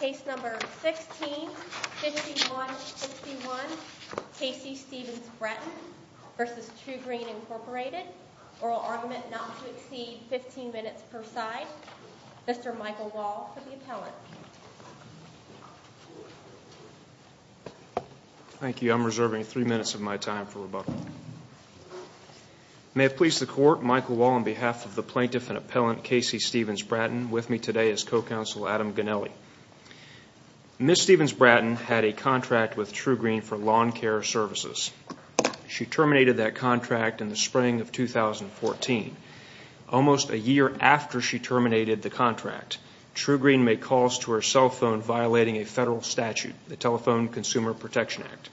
Case No. 16-5151 Casey Stevens-Bratton v. Trugreen Inc. Oral argument not to exceed 15 minutes per side. Mr. Michael Wall for the appellant. Thank you. I'm reserving three minutes of my time for rebuttal. May it please the court, Michael Wall on behalf of the plaintiff and appellant Casey Stevens-Bratton with me today as co-counsel Adam Ginelli. Ms. Stevens-Bratton had a contract with Trugreen for lawn care services. She terminated that contract in the spring of 2014. Almost a year after she terminated the contract, Trugreen made calls to her cell phone violating a federal statute, the Telephone Consumer Protection Act.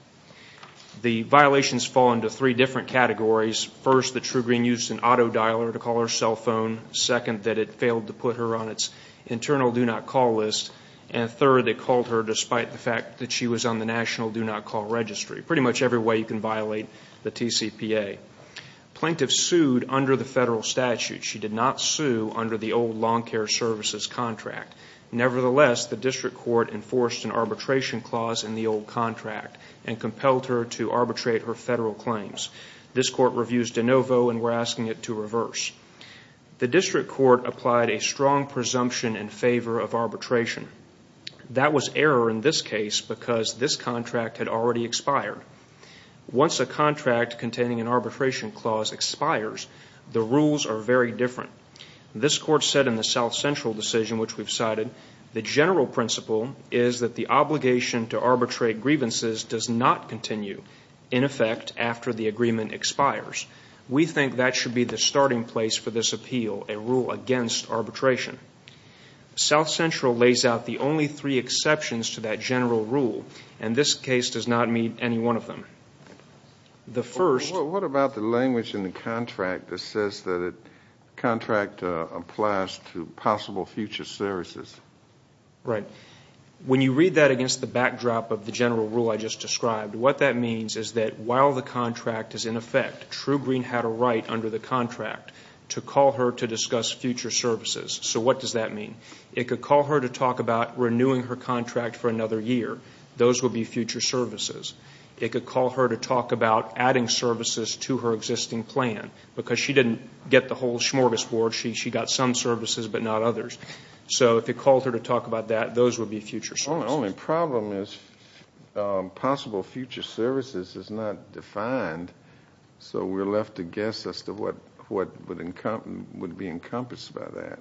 The violations fall into three different categories. First, that Trugreen used an auto dialer to call her cell phone. Second, that it failed to put her on its internal do not call list. And third, it called her despite the fact that she was on the national do not call registry. Pretty much every way you can violate the TCPA. Plaintiff sued under the federal statute. She did not sue under the old lawn care services contract. Nevertheless, the district court enforced an arbitration clause in the old contract and compelled her to arbitrate her federal claims. This court reviews de novo and we're asking it to reverse. The district court applied a strong presumption in favor of arbitration. That was error in this case because this contract had already expired. Once a contract containing an arbitration clause expires, the rules are very different. This court said in the South Central decision, which we've cited, the general principle is that the obligation to arbitrate grievances does not continue in effect after the agreement expires. We think that should be the starting place for this appeal, a rule against arbitration. South Central lays out the only three exceptions to that general rule, and this case does not meet any one of them. What about the language in the contract that says that a contract applies to possible future services? When you read that against the backdrop of the general rule I just described, what that means is that while the contract is in effect, True Green had a right under the contract to call her to discuss future services. So what does that mean? It could call her to talk about renewing her contract for another year. Those would be future services. It could call her to talk about adding services to her existing plan because she didn't get the whole smorgasbord. She got some services but not others. So if it called her to talk about that, those would be future services. The only problem is possible future services is not defined, so we're left to guess as to what would be encompassed by that.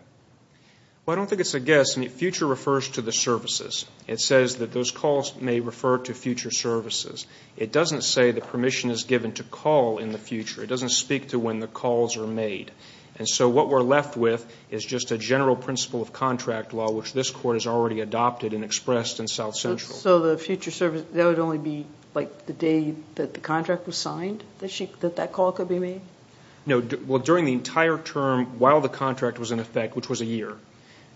Well, I don't think it's a guess. Future refers to the services. It says that those calls may refer to future services. It doesn't say the permission is given to call in the future. It doesn't speak to when the calls are made. And so what we're left with is just a general principle of contract law, which this Court has already adopted and expressed in South Central. So the future service, that would only be, like, the day that the contract was signed, that that call could be made? No. Well, during the entire term while the contract was in effect, which was a year,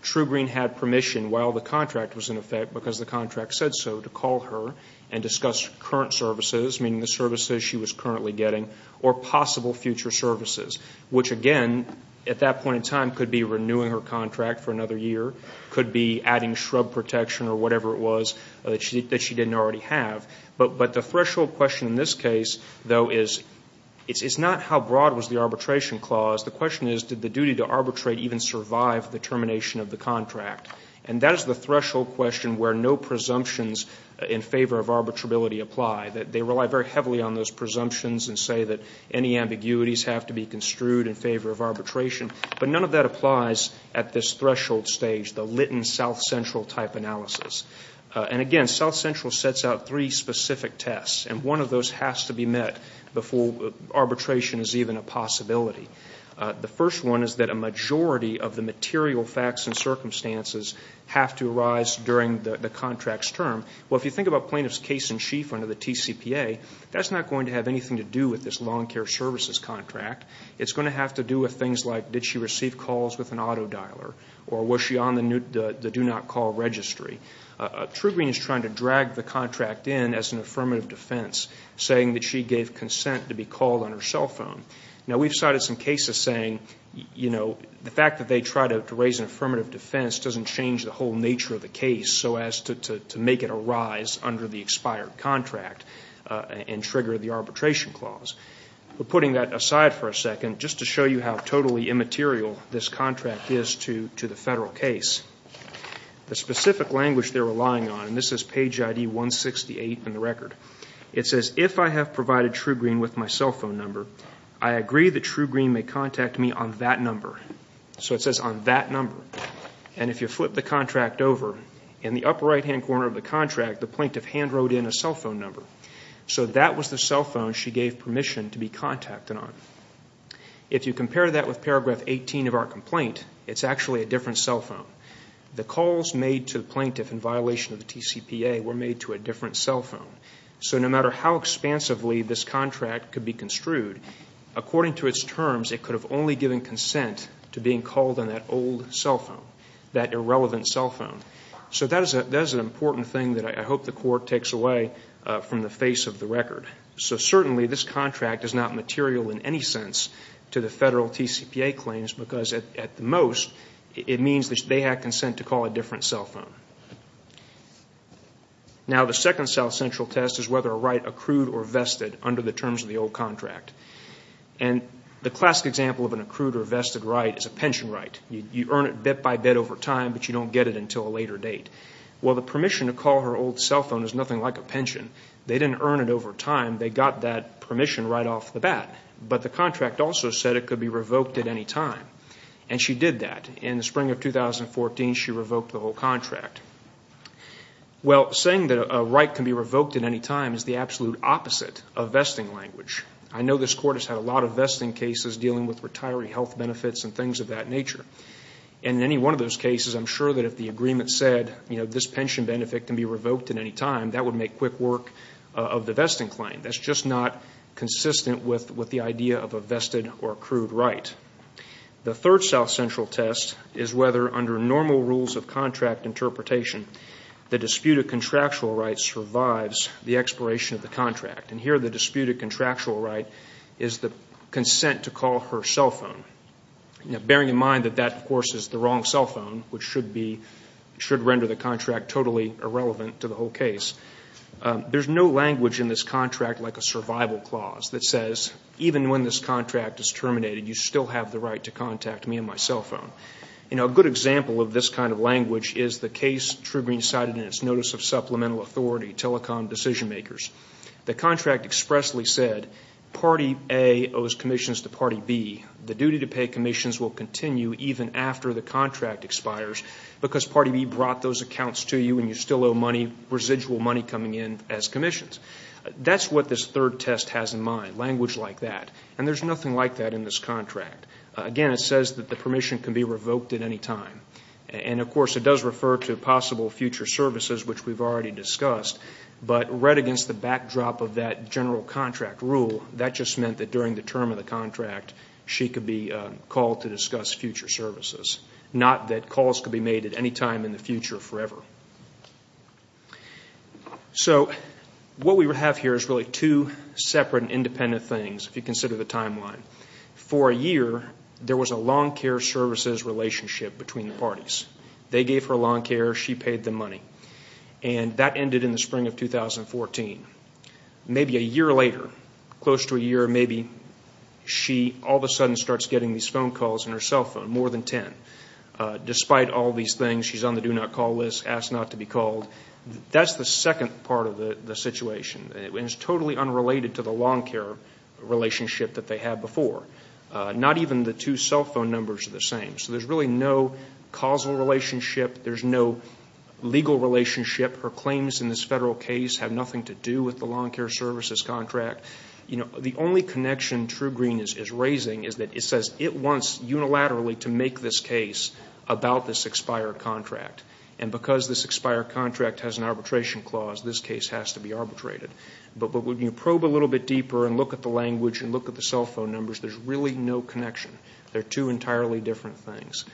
true green had permission while the contract was in effect because the contract said so to call her and discuss current services, meaning the services she was currently getting, or possible future services, which, again, at that point in time could be renewing her contract for another year, could be adding shrub protection or whatever it was that she didn't already have. But the threshold question in this case, though, is it's not how broad was the arbitration clause. The question is, did the duty to arbitrate even survive the termination of the contract? And that is the threshold question where no presumptions in favor of arbitrability apply. They rely very heavily on those presumptions and say that any ambiguities have to be construed in favor of arbitration. But none of that applies at this threshold stage, the Litton-South Central type analysis. And, again, South Central sets out three specific tests, and one of those has to be met before arbitration is even a possibility. The first one is that a majority of the material facts and circumstances have to arise during the contract's term. Well, if you think about plaintiff's case in chief under the TCPA, that's not going to have anything to do with this long care services contract. It's going to have to do with things like did she receive calls with an auto dialer or was she on the do not call registry. Trugreen is trying to drag the contract in as an affirmative defense, saying that she gave consent to be called on her cell phone. Now, we've cited some cases saying, you know, the fact that they tried to raise an affirmative defense doesn't change the whole nature of the case so as to make it arise under the expired contract and trigger the arbitration clause. But putting that aside for a second, just to show you how totally immaterial this contract is to the Federal case, the specific language they're relying on, and this is page ID 168 in the record, it says, if I have provided Trugreen with my cell phone number, I agree that Trugreen may contact me on that number. So it says on that number. And if you flip the contract over, in the upper right-hand corner of the contract, the plaintiff hand wrote in a cell phone number. So that was the cell phone she gave permission to be contacted on. If you compare that with paragraph 18 of our complaint, it's actually a different cell phone. The calls made to the plaintiff in violation of the TCPA were made to a different cell phone. So no matter how expansively this contract could be construed, according to its terms, it could have only given consent to being called on that old cell phone, that irrelevant cell phone. So that is an important thing that I hope the Court takes away from the face of the record. So certainly this contract is not material in any sense to the Federal TCPA claims because, at the most, it means that they had consent to call a different cell phone. Now, the second South Central test is whether a right accrued or vested under the terms of the old contract. And the classic example of an accrued or vested right is a pension right. You earn it bit by bit over time, but you don't get it until a later date. Well, the permission to call her old cell phone is nothing like a pension. They didn't earn it over time. They got that permission right off the bat. But the contract also said it could be revoked at any time, and she did that. In the spring of 2014, she revoked the whole contract. Well, saying that a right can be revoked at any time is the absolute opposite of vesting language. I know this Court has had a lot of vesting cases dealing with retiree health benefits and things of that nature. And in any one of those cases, I'm sure that if the agreement said, you know, this pension benefit can be revoked at any time, that would make quick work of the vesting claim. That's just not consistent with the idea of a vested or accrued right. The third South Central test is whether, under normal rules of contract interpretation, the disputed contractual right survives the expiration of the contract. And here the disputed contractual right is the consent to call her cell phone, bearing in mind that that, of course, is the wrong cell phone, which should render the contract totally irrelevant to the whole case. There's no language in this contract like a survival clause that says, even when this contract is terminated, you still have the right to contact me on my cell phone. You know, a good example of this kind of language is the case Trugreen cited in its Notice of Supplemental Authority, Telecom Decision Makers. The contract expressly said, Party A owes commissions to Party B. The duty to pay commissions will continue even after the contract expires because Party B brought those accounts to you and you still owe money, residual money coming in as commissions. That's what this third test has in mind, language like that. And there's nothing like that in this contract. Again, it says that the permission can be revoked at any time. And, of course, it does refer to possible future services, which we've already discussed. But read against the backdrop of that general contract rule, that just meant that during the term of the contract, she could be called to discuss future services, not that calls could be made at any time in the future forever. So what we have here is really two separate and independent things if you consider the timeline. For a year, there was a lawn care services relationship between the parties. They gave her lawn care. She paid them money. And that ended in the spring of 2014. Maybe a year later, close to a year, maybe she all of a sudden starts getting these phone calls on her cell phone, more than ten. Despite all these things, she's on the do not call list, asked not to be called. That's the second part of the situation. It's totally unrelated to the lawn care relationship that they had before. Not even the two cell phone numbers are the same. So there's really no causal relationship. There's no legal relationship. Her claims in this Federal case have nothing to do with the lawn care services contract. The only connection True Green is raising is that it says it wants unilaterally to make this case about this expired contract. And because this expired contract has an arbitration clause, this case has to be arbitrated. But when you probe a little bit deeper and look at the language and look at the cell phone numbers, there's really no connection. They're two entirely different things.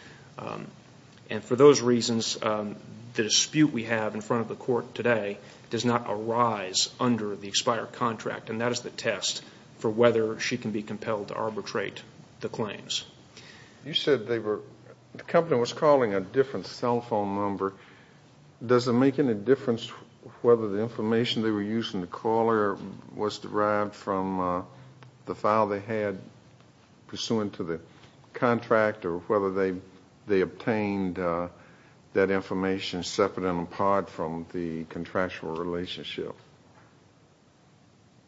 And for those reasons, the dispute we have in front of the court today does not arise under the expired contract. And that is the test for whether she can be compelled to arbitrate the claims. You said the company was calling a different cell phone number. Does it make any difference whether the information they were using to call her was derived from the file they had pursuant to the contract or whether they obtained that information separate and apart from the contractual relationship?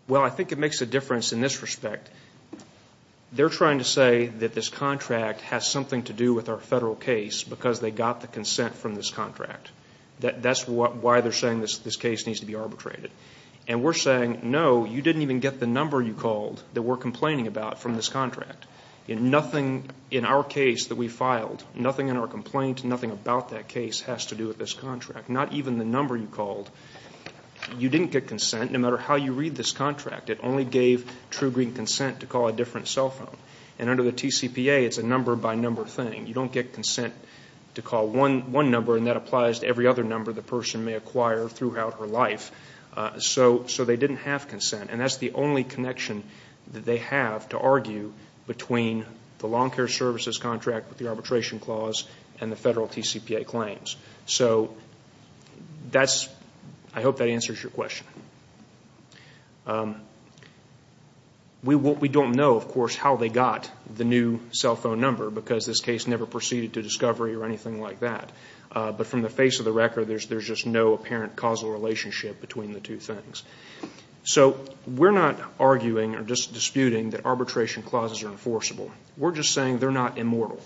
Well, I think it makes a difference in this respect. They're trying to say that this contract has something to do with our Federal case because they got the consent from this contract. That's why they're saying this case needs to be arbitrated. And we're saying, no, you didn't even get the number you called that we're complaining about from this contract. In our case that we filed, nothing in our complaint, nothing about that case has to do with this contract, not even the number you called. You didn't get consent no matter how you read this contract. It only gave true green consent to call a different cell phone. And under the TCPA, it's a number-by-number thing. You don't get consent to call one number, and that applies to every other number the person may acquire throughout her life. So they didn't have consent. And that's the only connection that they have to argue between the long-care services contract with the arbitration clause and the Federal TCPA claims. So I hope that answers your question. We don't know, of course, how they got the new cell phone number because this case never proceeded to discovery or anything like that. But from the face of the record, there's just no apparent causal relationship between the two things. So we're not arguing or just disputing that arbitration clauses are enforceable. We're just saying they're not immortal.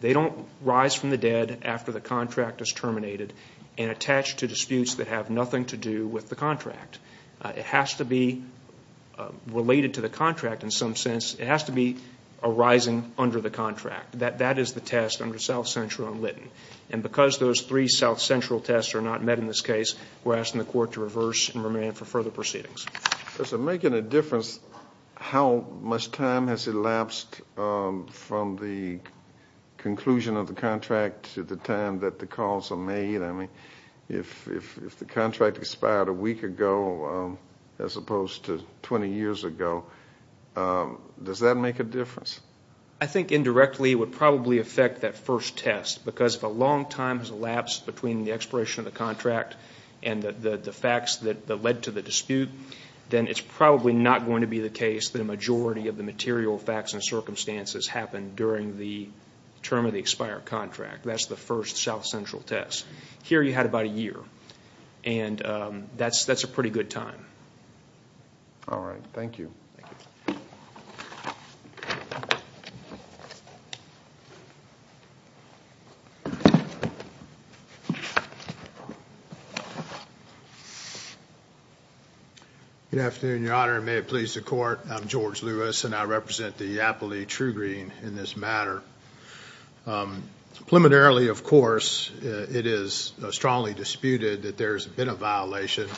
They don't rise from the dead after the contract is terminated and attach to disputes that have nothing to do with the contract. It has to be related to the contract in some sense. It has to be arising under the contract. That is the test under South Central and Litton. And because those three South Central tests are not met in this case, we're asking the Court to reverse and remand for further proceedings. Does it make any difference how much time has elapsed from the conclusion of the contract to the time that the calls are made? I mean, if the contract expired a week ago as opposed to 20 years ago, does that make a difference? I think indirectly it would probably affect that first test because if a long time has elapsed between the expiration of the contract and the facts that led to the dispute, then it's probably not going to be the case that a majority of the material facts and circumstances happened during the term of the expired contract. That's the first South Central test. Here you had about a year. And that's a pretty good time. All right. Thank you. Good afternoon, Your Honor. May it please the Court. I'm George Lewis, and I represent the Yappily True Green in this matter. Preliminarily, of course, it is strongly disputed that there's been a violation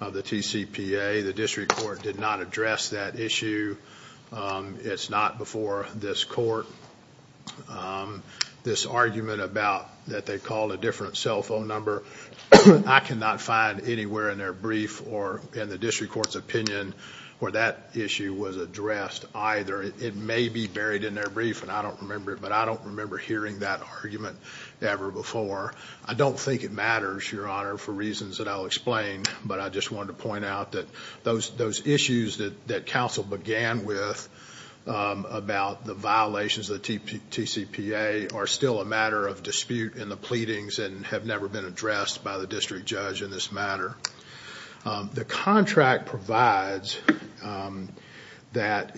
of the TCPA. The District Court did not address that issue. It's not before this Court. This argument about that they called a different cell phone number, I cannot find anywhere in their brief or in the District Court's opinion where that issue was addressed either. It may be buried in their brief, and I don't remember it, but I don't remember hearing that argument ever before. I don't think it matters, Your Honor, for reasons that I'll explain, but I just wanted to point out that those issues that counsel began with about the violations of the TCPA are still a matter of dispute in the pleadings and have never been addressed by the district judge in this matter. The contract provides that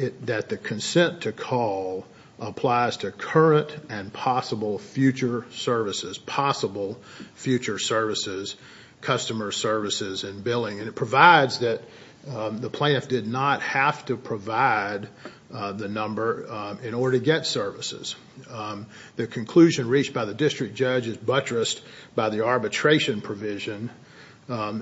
the consent to call applies to current and possible future services, possible future services, customer services and billing, and it provides that the plaintiff did not have to provide the number in order to get services. The conclusion reached by the district judge is buttressed by the arbitration provision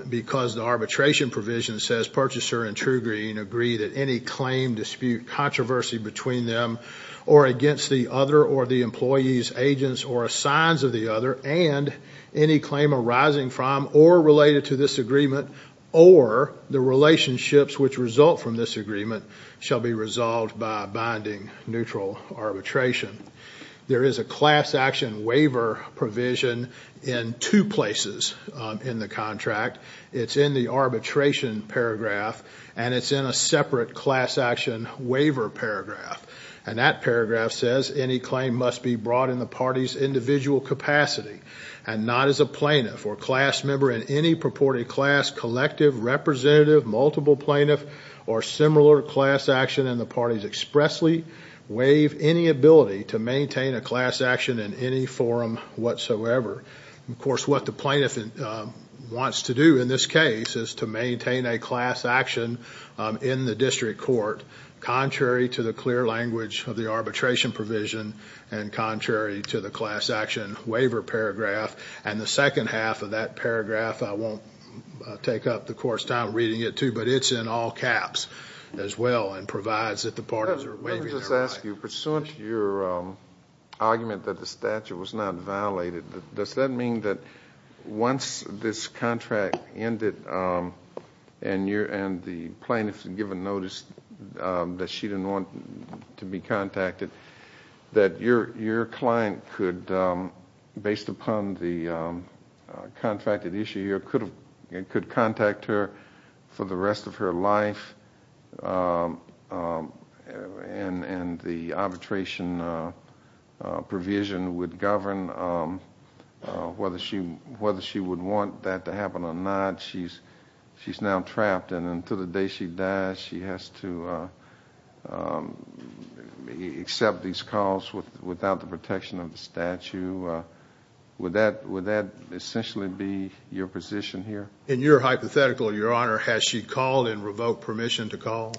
because the arbitration provision says, Purchaser and True Green agree that any claim, dispute, controversy between them or against the other or the employee's agents or assigns of the other and any claim arising from or related to this agreement or the relationships which result from this agreement shall be resolved by binding neutral arbitration. There is a class action waiver provision in two places in the contract. It's in the arbitration paragraph, and it's in a separate class action waiver paragraph, and that paragraph says, Any claim must be brought in the party's individual capacity and not as a plaintiff or class member in any purported class, collective, representative, multiple plaintiff or similar class action in the party's expressly waive any ability to maintain a class action in any forum whatsoever. Of course, what the plaintiff wants to do in this case is to maintain a class action in the district court contrary to the clear language of the arbitration provision and contrary to the class action waiver paragraph, and the second half of that paragraph, I won't take up the court's time reading it too, but it's in all caps as well and provides that the parties are waiving their rights. Let me just ask you, pursuant to your argument that the statute was not violated, does that mean that once this contract ended and the plaintiff is given notice that she didn't want to be contacted, that your client could, based upon the contracted issue, could contact her for the rest of her life and the arbitration provision would govern whether she would want that to happen or not. She's now trapped, and until the day she dies, she has to accept these calls without the protection of the statute. Would that essentially be your position here? In your hypothetical, Your Honor, has she called and revoked permission to call?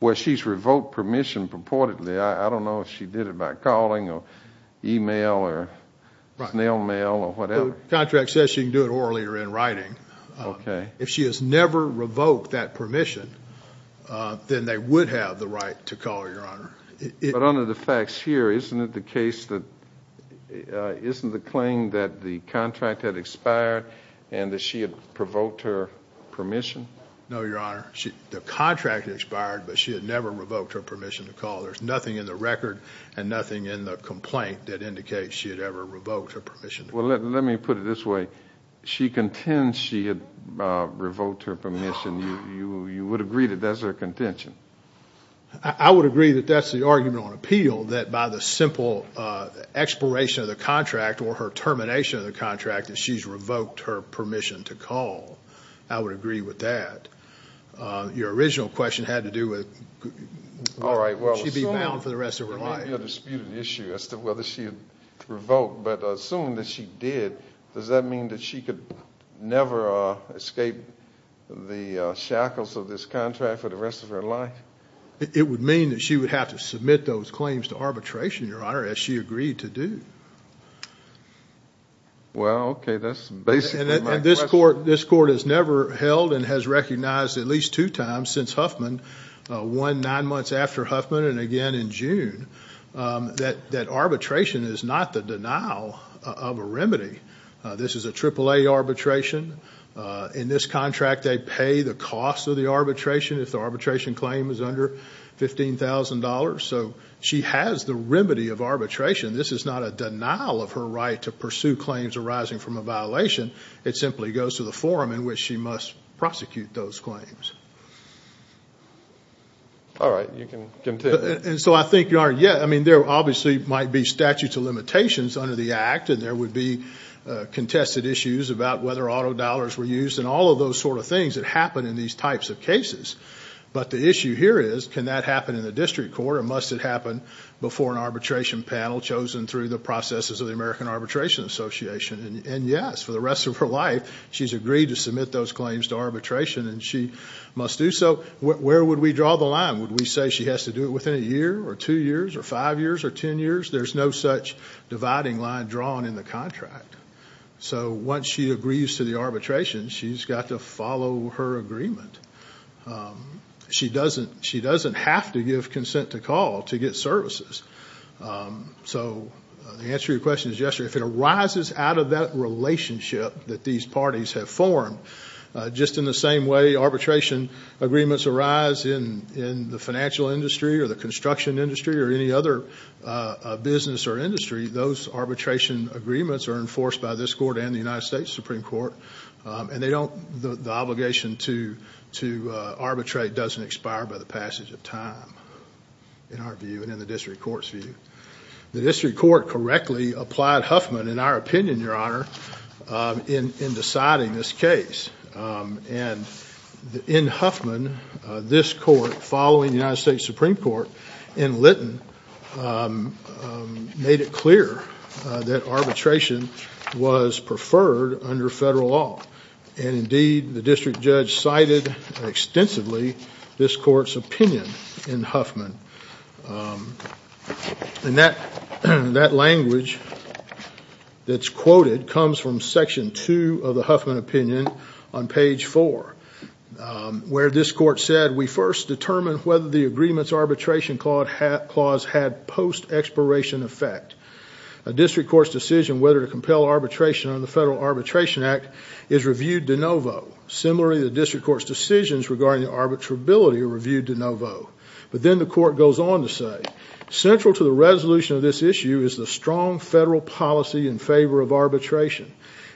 Well, she's revoked permission purportedly. I don't know if she did it by calling or email or snail mail or whatever. The contract says she can do it orally or in writing. If she has never revoked that permission, then they would have the right to call, Your Honor. But under the facts here, isn't the claim that the contract had expired and that she had provoked her permission? No, Your Honor. The contract expired, but she had never revoked her permission to call. There's nothing in the record and nothing in the complaint that indicates she had ever revoked her permission to call. Well, let me put it this way. She contends she had revoked her permission. You would agree that that's her contention? I would agree that that's the argument on appeal, that by the simple expiration of the contract or her termination of the contract, that she's revoked her permission to call. I would agree with that. Your original question had to do with would she be bound for the rest of her life. All right. Well, there may be a disputed issue as to whether she revoked. But assuming that she did, does that mean that she could never escape the shackles of this contract for the rest of her life? It would mean that she would have to submit those claims to arbitration, Your Honor, as she agreed to do. Well, okay. That's basically my question. And this court has never held and has recognized at least two times since Huffman, one nine months after Huffman and again in June, that arbitration is not the denial of a remedy. This is a AAA arbitration. In this contract they pay the cost of the arbitration if the arbitration claim is under $15,000. So she has the remedy of arbitration. This is not a denial of her right to pursue claims arising from a violation. It simply goes to the forum in which she must prosecute those claims. All right. You can continue. And so I think, Your Honor, yeah, I mean there obviously might be statute of limitations under the act, and there would be contested issues about whether auto dollars were used and all of those sort of things that happen in these types of cases. But the issue here is can that happen in the district court or must it happen before an arbitration panel chosen through the processes of the American Arbitration Association? And yes, for the rest of her life she's agreed to submit those claims to arbitration and she must do so. Where would we draw the line? Would we say she has to do it within a year or two years or five years or ten years? There's no such dividing line drawn in the contract. So once she agrees to the arbitration, she's got to follow her agreement. She doesn't have to give consent to call to get services. So the answer to your question is yes, if it arises out of that relationship that these parties have formed, just in the same way arbitration agreements arise in the financial industry or the construction industry or any other business or industry, those arbitration agreements are enforced by this court and the United States Supreme Court, and the obligation to arbitrate doesn't expire by the passage of time, in our view and in the district court's view. The district court correctly applied Huffman, in our opinion, Your Honor, in deciding this case. And in Huffman, this court, following the United States Supreme Court in Lytton, made it clear that arbitration was preferred under federal law. And indeed, the district judge cited extensively this court's opinion in Huffman. And that language that's quoted comes from Section 2 of the Huffman opinion on page 4, where this court said, We first determined whether the agreement's arbitration clause had post-expiration effect. A district court's decision whether to compel arbitration under the Federal Arbitration Act is reviewed de novo. Similarly, the district court's decisions regarding arbitrability are reviewed de novo. But then the court goes on to say, Central to the resolution of this issue is the strong federal policy in favor of arbitration.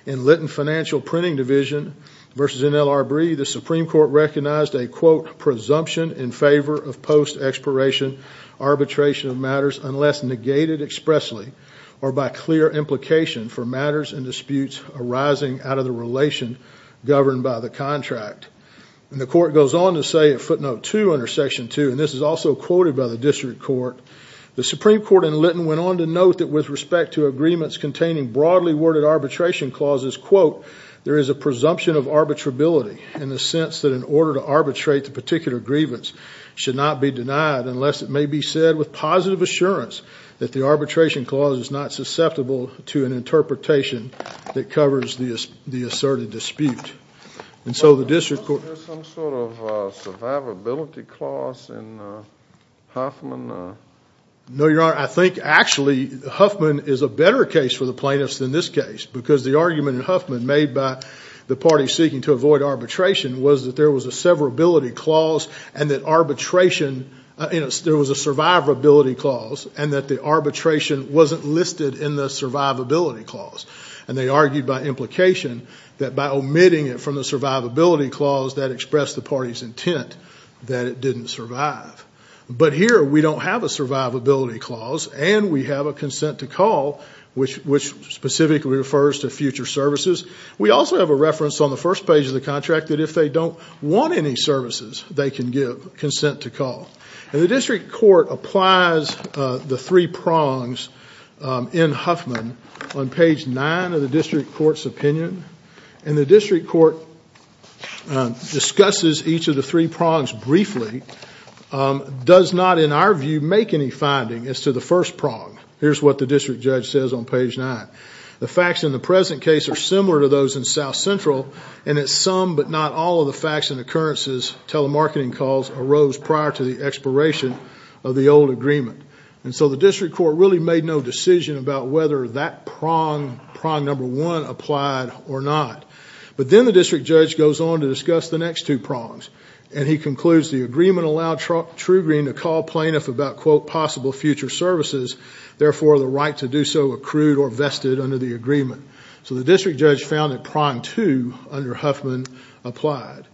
In Lytton Financial Printing Division v. NLRB, the Supreme Court recognized a, quote, presumption in favor of post-expiration arbitration of matters unless negated expressly or by clear implication for matters and disputes arising out of the relation governed by the contract. And the court goes on to say, at footnote 2 under Section 2, and this is also quoted by the district court, the Supreme Court in Lytton went on to note that with respect to agreements containing broadly worded arbitration clauses, quote, there is a presumption of arbitrability in the sense that in order to arbitrate the particular grievance should not be denied unless it may be said with positive assurance that the arbitration clause is not susceptible to an interpretation that covers the asserted dispute. And so the district court- Was there some sort of survivability clause in Huffman? No, Your Honor. I think actually Huffman is a better case for the plaintiffs than this case because the argument in Huffman made by the parties seeking to avoid arbitration was that there was a survivability clause and that arbitration- there was a survivability clause and that the arbitration wasn't listed in the survivability clause. And they argued by implication that by omitting it from the survivability clause that expressed the party's intent that it didn't survive. But here we don't have a survivability clause and we have a consent to call which specifically refers to future services. We also have a reference on the first page of the contract that if they don't want any services they can give consent to call. And the district court applies the three prongs in Huffman on page nine of the district court's opinion and the district court discusses each of the three prongs briefly, does not in our view make any finding as to the first prong. Here's what the district judge says on page nine. The facts in the present case are similar to those in South Central and that some but not all of the facts and occurrences, telemarketing calls, arose prior to the expiration of the old agreement. And so the district court really made no decision about whether that prong, prong number one, applied or not. But then the district judge goes on to discuss the next two prongs and he concludes the agreement allowed True Green to call plaintiff about quote possible future services, therefore the right to do so accrued or vested under the agreement. So the district judge found that prong two under Huffman applied.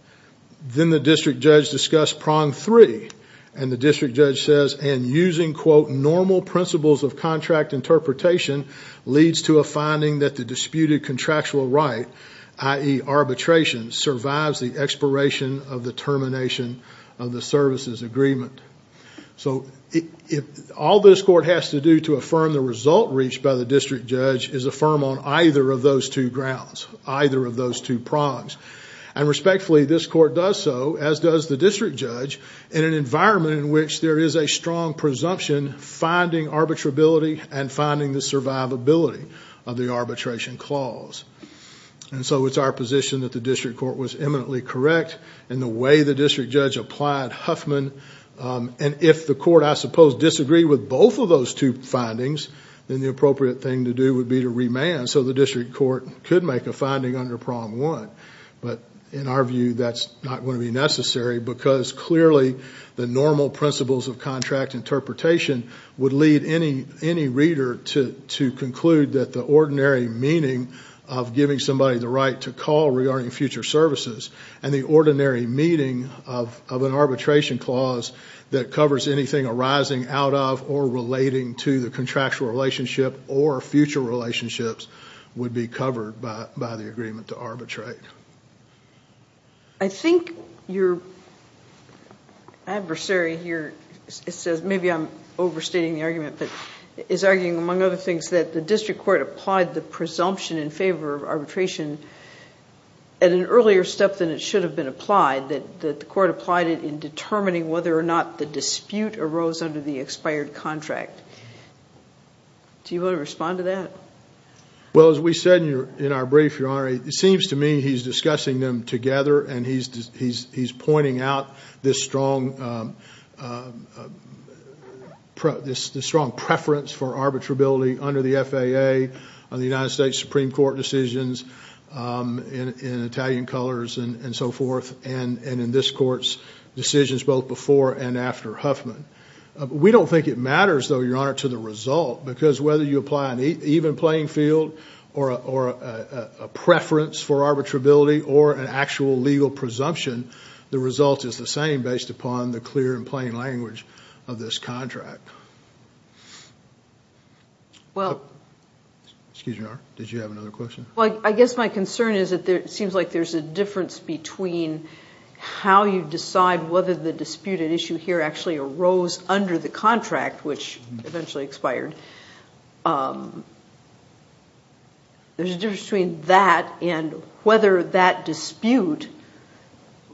Then the district judge discussed prong three and the district judge says and using quote normal principles of contract interpretation leads to a finding that the disputed contractual right, i.e. arbitration, survives the expiration of the termination of the services agreement. So all this court has to do to affirm the result reached by the district judge is affirm on either of those two grounds, either of those two prongs. And respectfully this court does so as does the district judge in an environment in which there is a strong presumption finding arbitrability and finding the survivability of the arbitration clause. And so it's our position that the district court was eminently correct in the way the district judge applied Huffman and if the court I suppose disagreed with both of those two findings then the appropriate thing to do would be to remand and so the district court could make a finding under prong one. But in our view that's not going to be necessary because clearly the normal principles of contract interpretation would lead any reader to conclude that the ordinary meaning of giving somebody the right to call regarding future services and the ordinary meaning of an arbitration clause that covers anything arising out of or relating to the contractual relationship or future relationships would be covered by the agreement to arbitrate. I think your adversary here says, maybe I'm overstating the argument, but is arguing among other things that the district court applied the presumption in favor of arbitration at an earlier step than it should have been applied, that the court applied it in determining whether or not the dispute arose under the expired contract. Do you want to respond to that? Well, as we said in our brief, Your Honor, it seems to me he's discussing them together and he's pointing out this strong preference for arbitrability under the FAA, the United States Supreme Court decisions in Italian colors and so forth, and in this court's decisions both before and after Huffman. We don't think it matters, though, Your Honor, to the result because whether you apply an even playing field or a preference for arbitrability or an actual legal presumption, the result is the same based upon the clear and plain language of this contract. Excuse me, Your Honor, did you have another question? Well, I guess my concern is that it seems like there's a difference between how you decide whether the disputed issue here actually arose under the contract, which eventually expired. There's a difference between that and whether that dispute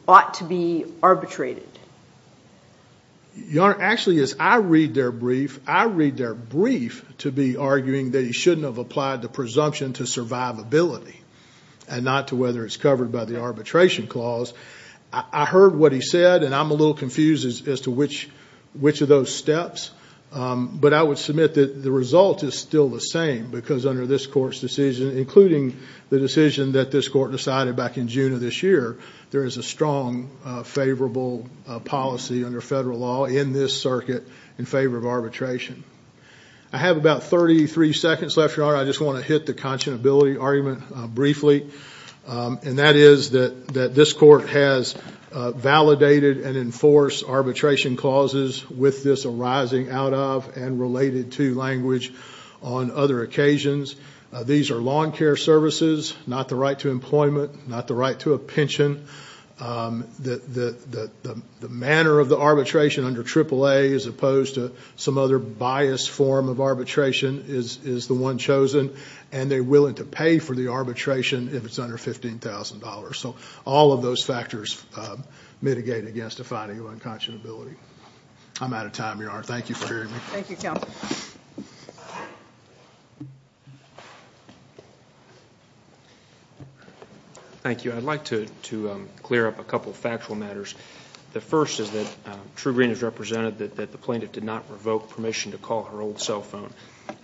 ought to be arbitrated. Your Honor, actually, as I read their brief, I read their brief to be arguing that he shouldn't have applied the presumption to survivability and not to whether it's covered by the arbitration clause. I heard what he said, and I'm a little confused as to which of those steps, but I would submit that the result is still the same because under this court's decision, including the decision that this court decided back in June of this year, there is a strong favorable policy under federal law in this circuit in favor of arbitration. I have about 33 seconds left, Your Honor. I just want to hit the conscionability argument briefly, and that is that this court has validated and enforced arbitration clauses with this arising out of and related to language on other occasions. These are lawn care services, not the right to employment, not the right to a pension. The manner of the arbitration under AAA as opposed to some other biased form of arbitration is the one chosen, and they're willing to pay for the arbitration if it's under $15,000. So all of those factors mitigate against a finding of unconscionability. I'm out of time, Your Honor. Thank you for hearing me. Thank you, counsel. Thank you. I'd like to clear up a couple of factual matters. The first is that True Green has represented that the plaintiff did not revoke permission to call her old cell phone.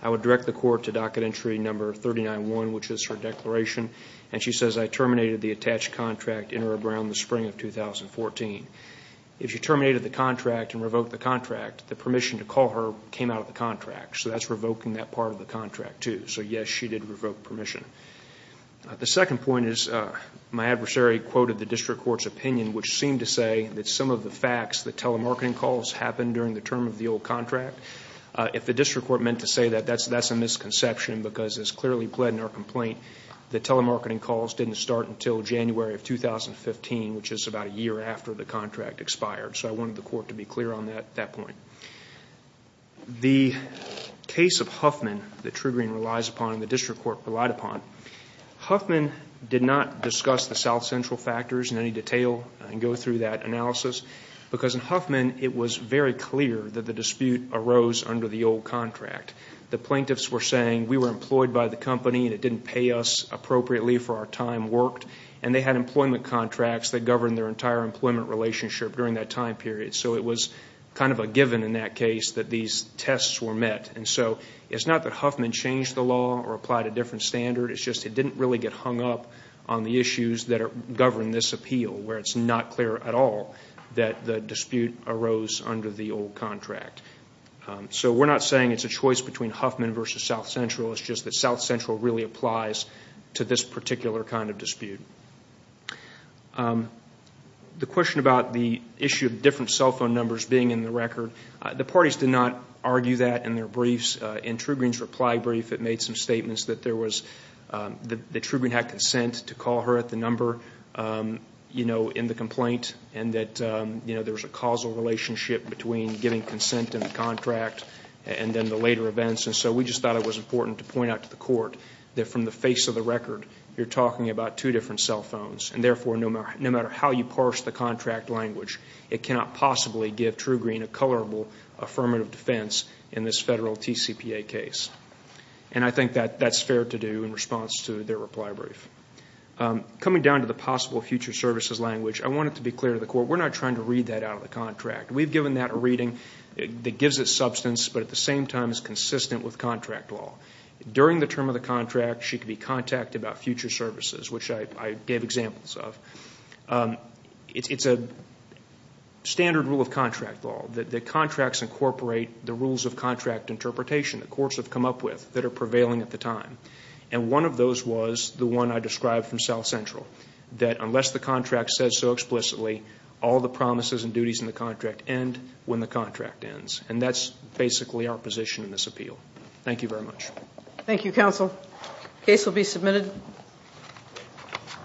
I would direct the court to docket entry number 39-1, which is her declaration, and she says, I terminated the attached contract in or around the spring of 2014. If she terminated the contract and revoked the contract, the permission to call her came out of the contract, so that's revoking that part of the contract too. So, yes, she did revoke permission. The second point is my adversary quoted the district court's opinion, which seemed to say that some of the facts, the telemarketing calls happened during the term of the old contract. If the district court meant to say that, that's a misconception because it's clearly pled in our complaint that telemarketing calls didn't start until January of 2015, which is about a year after the contract expired. So I wanted the court to be clear on that point. The case of Huffman that True Green relies upon and the district court relied upon, Huffman did not discuss the South Central factors in any detail and go through that analysis, because in Huffman it was very clear that the dispute arose under the old contract. The plaintiffs were saying we were employed by the company and it didn't pay us appropriately for our time worked, and they had employment contracts that governed their entire employment relationship during that time period, so it was kind of a given in that case that these tests were met. And so it's not that Huffman changed the law or applied a different standard. It's just it didn't really get hung up on the issues that govern this appeal, where it's not clear at all that the dispute arose under the old contract. So we're not saying it's a choice between Huffman versus South Central. It's just that South Central really applies to this particular kind of dispute. The question about the issue of different cell phone numbers being in the record, the parties did not argue that in their briefs. In Trugreen's reply brief it made some statements that there was that Trugreen had consent to call her at the number in the complaint and that there was a causal relationship between giving consent in the contract and then the later events, and so we just thought it was important to point out to the court that from the face of the record you're talking about two different cell phones, and therefore no matter how you parse the contract language it cannot possibly give Trugreen a colorable affirmative defense in this federal TCPA case. And I think that that's fair to do in response to their reply brief. Coming down to the possible future services language, I want it to be clear to the court, we're not trying to read that out of the contract. We've given that a reading that gives it substance but at the same time is consistent with contract law. During the term of the contract she could be contacted about future services, which I gave examples of. It's a standard rule of contract law that the contracts incorporate the rules of contract interpretation that courts have come up with that are prevailing at the time, and one of those was the one I described from South Central that unless the contract says so explicitly all the promises and duties in the contract end when the contract ends, and that's basically our position in this appeal. Thank you very much. Thank you, counsel. Case will be submitted.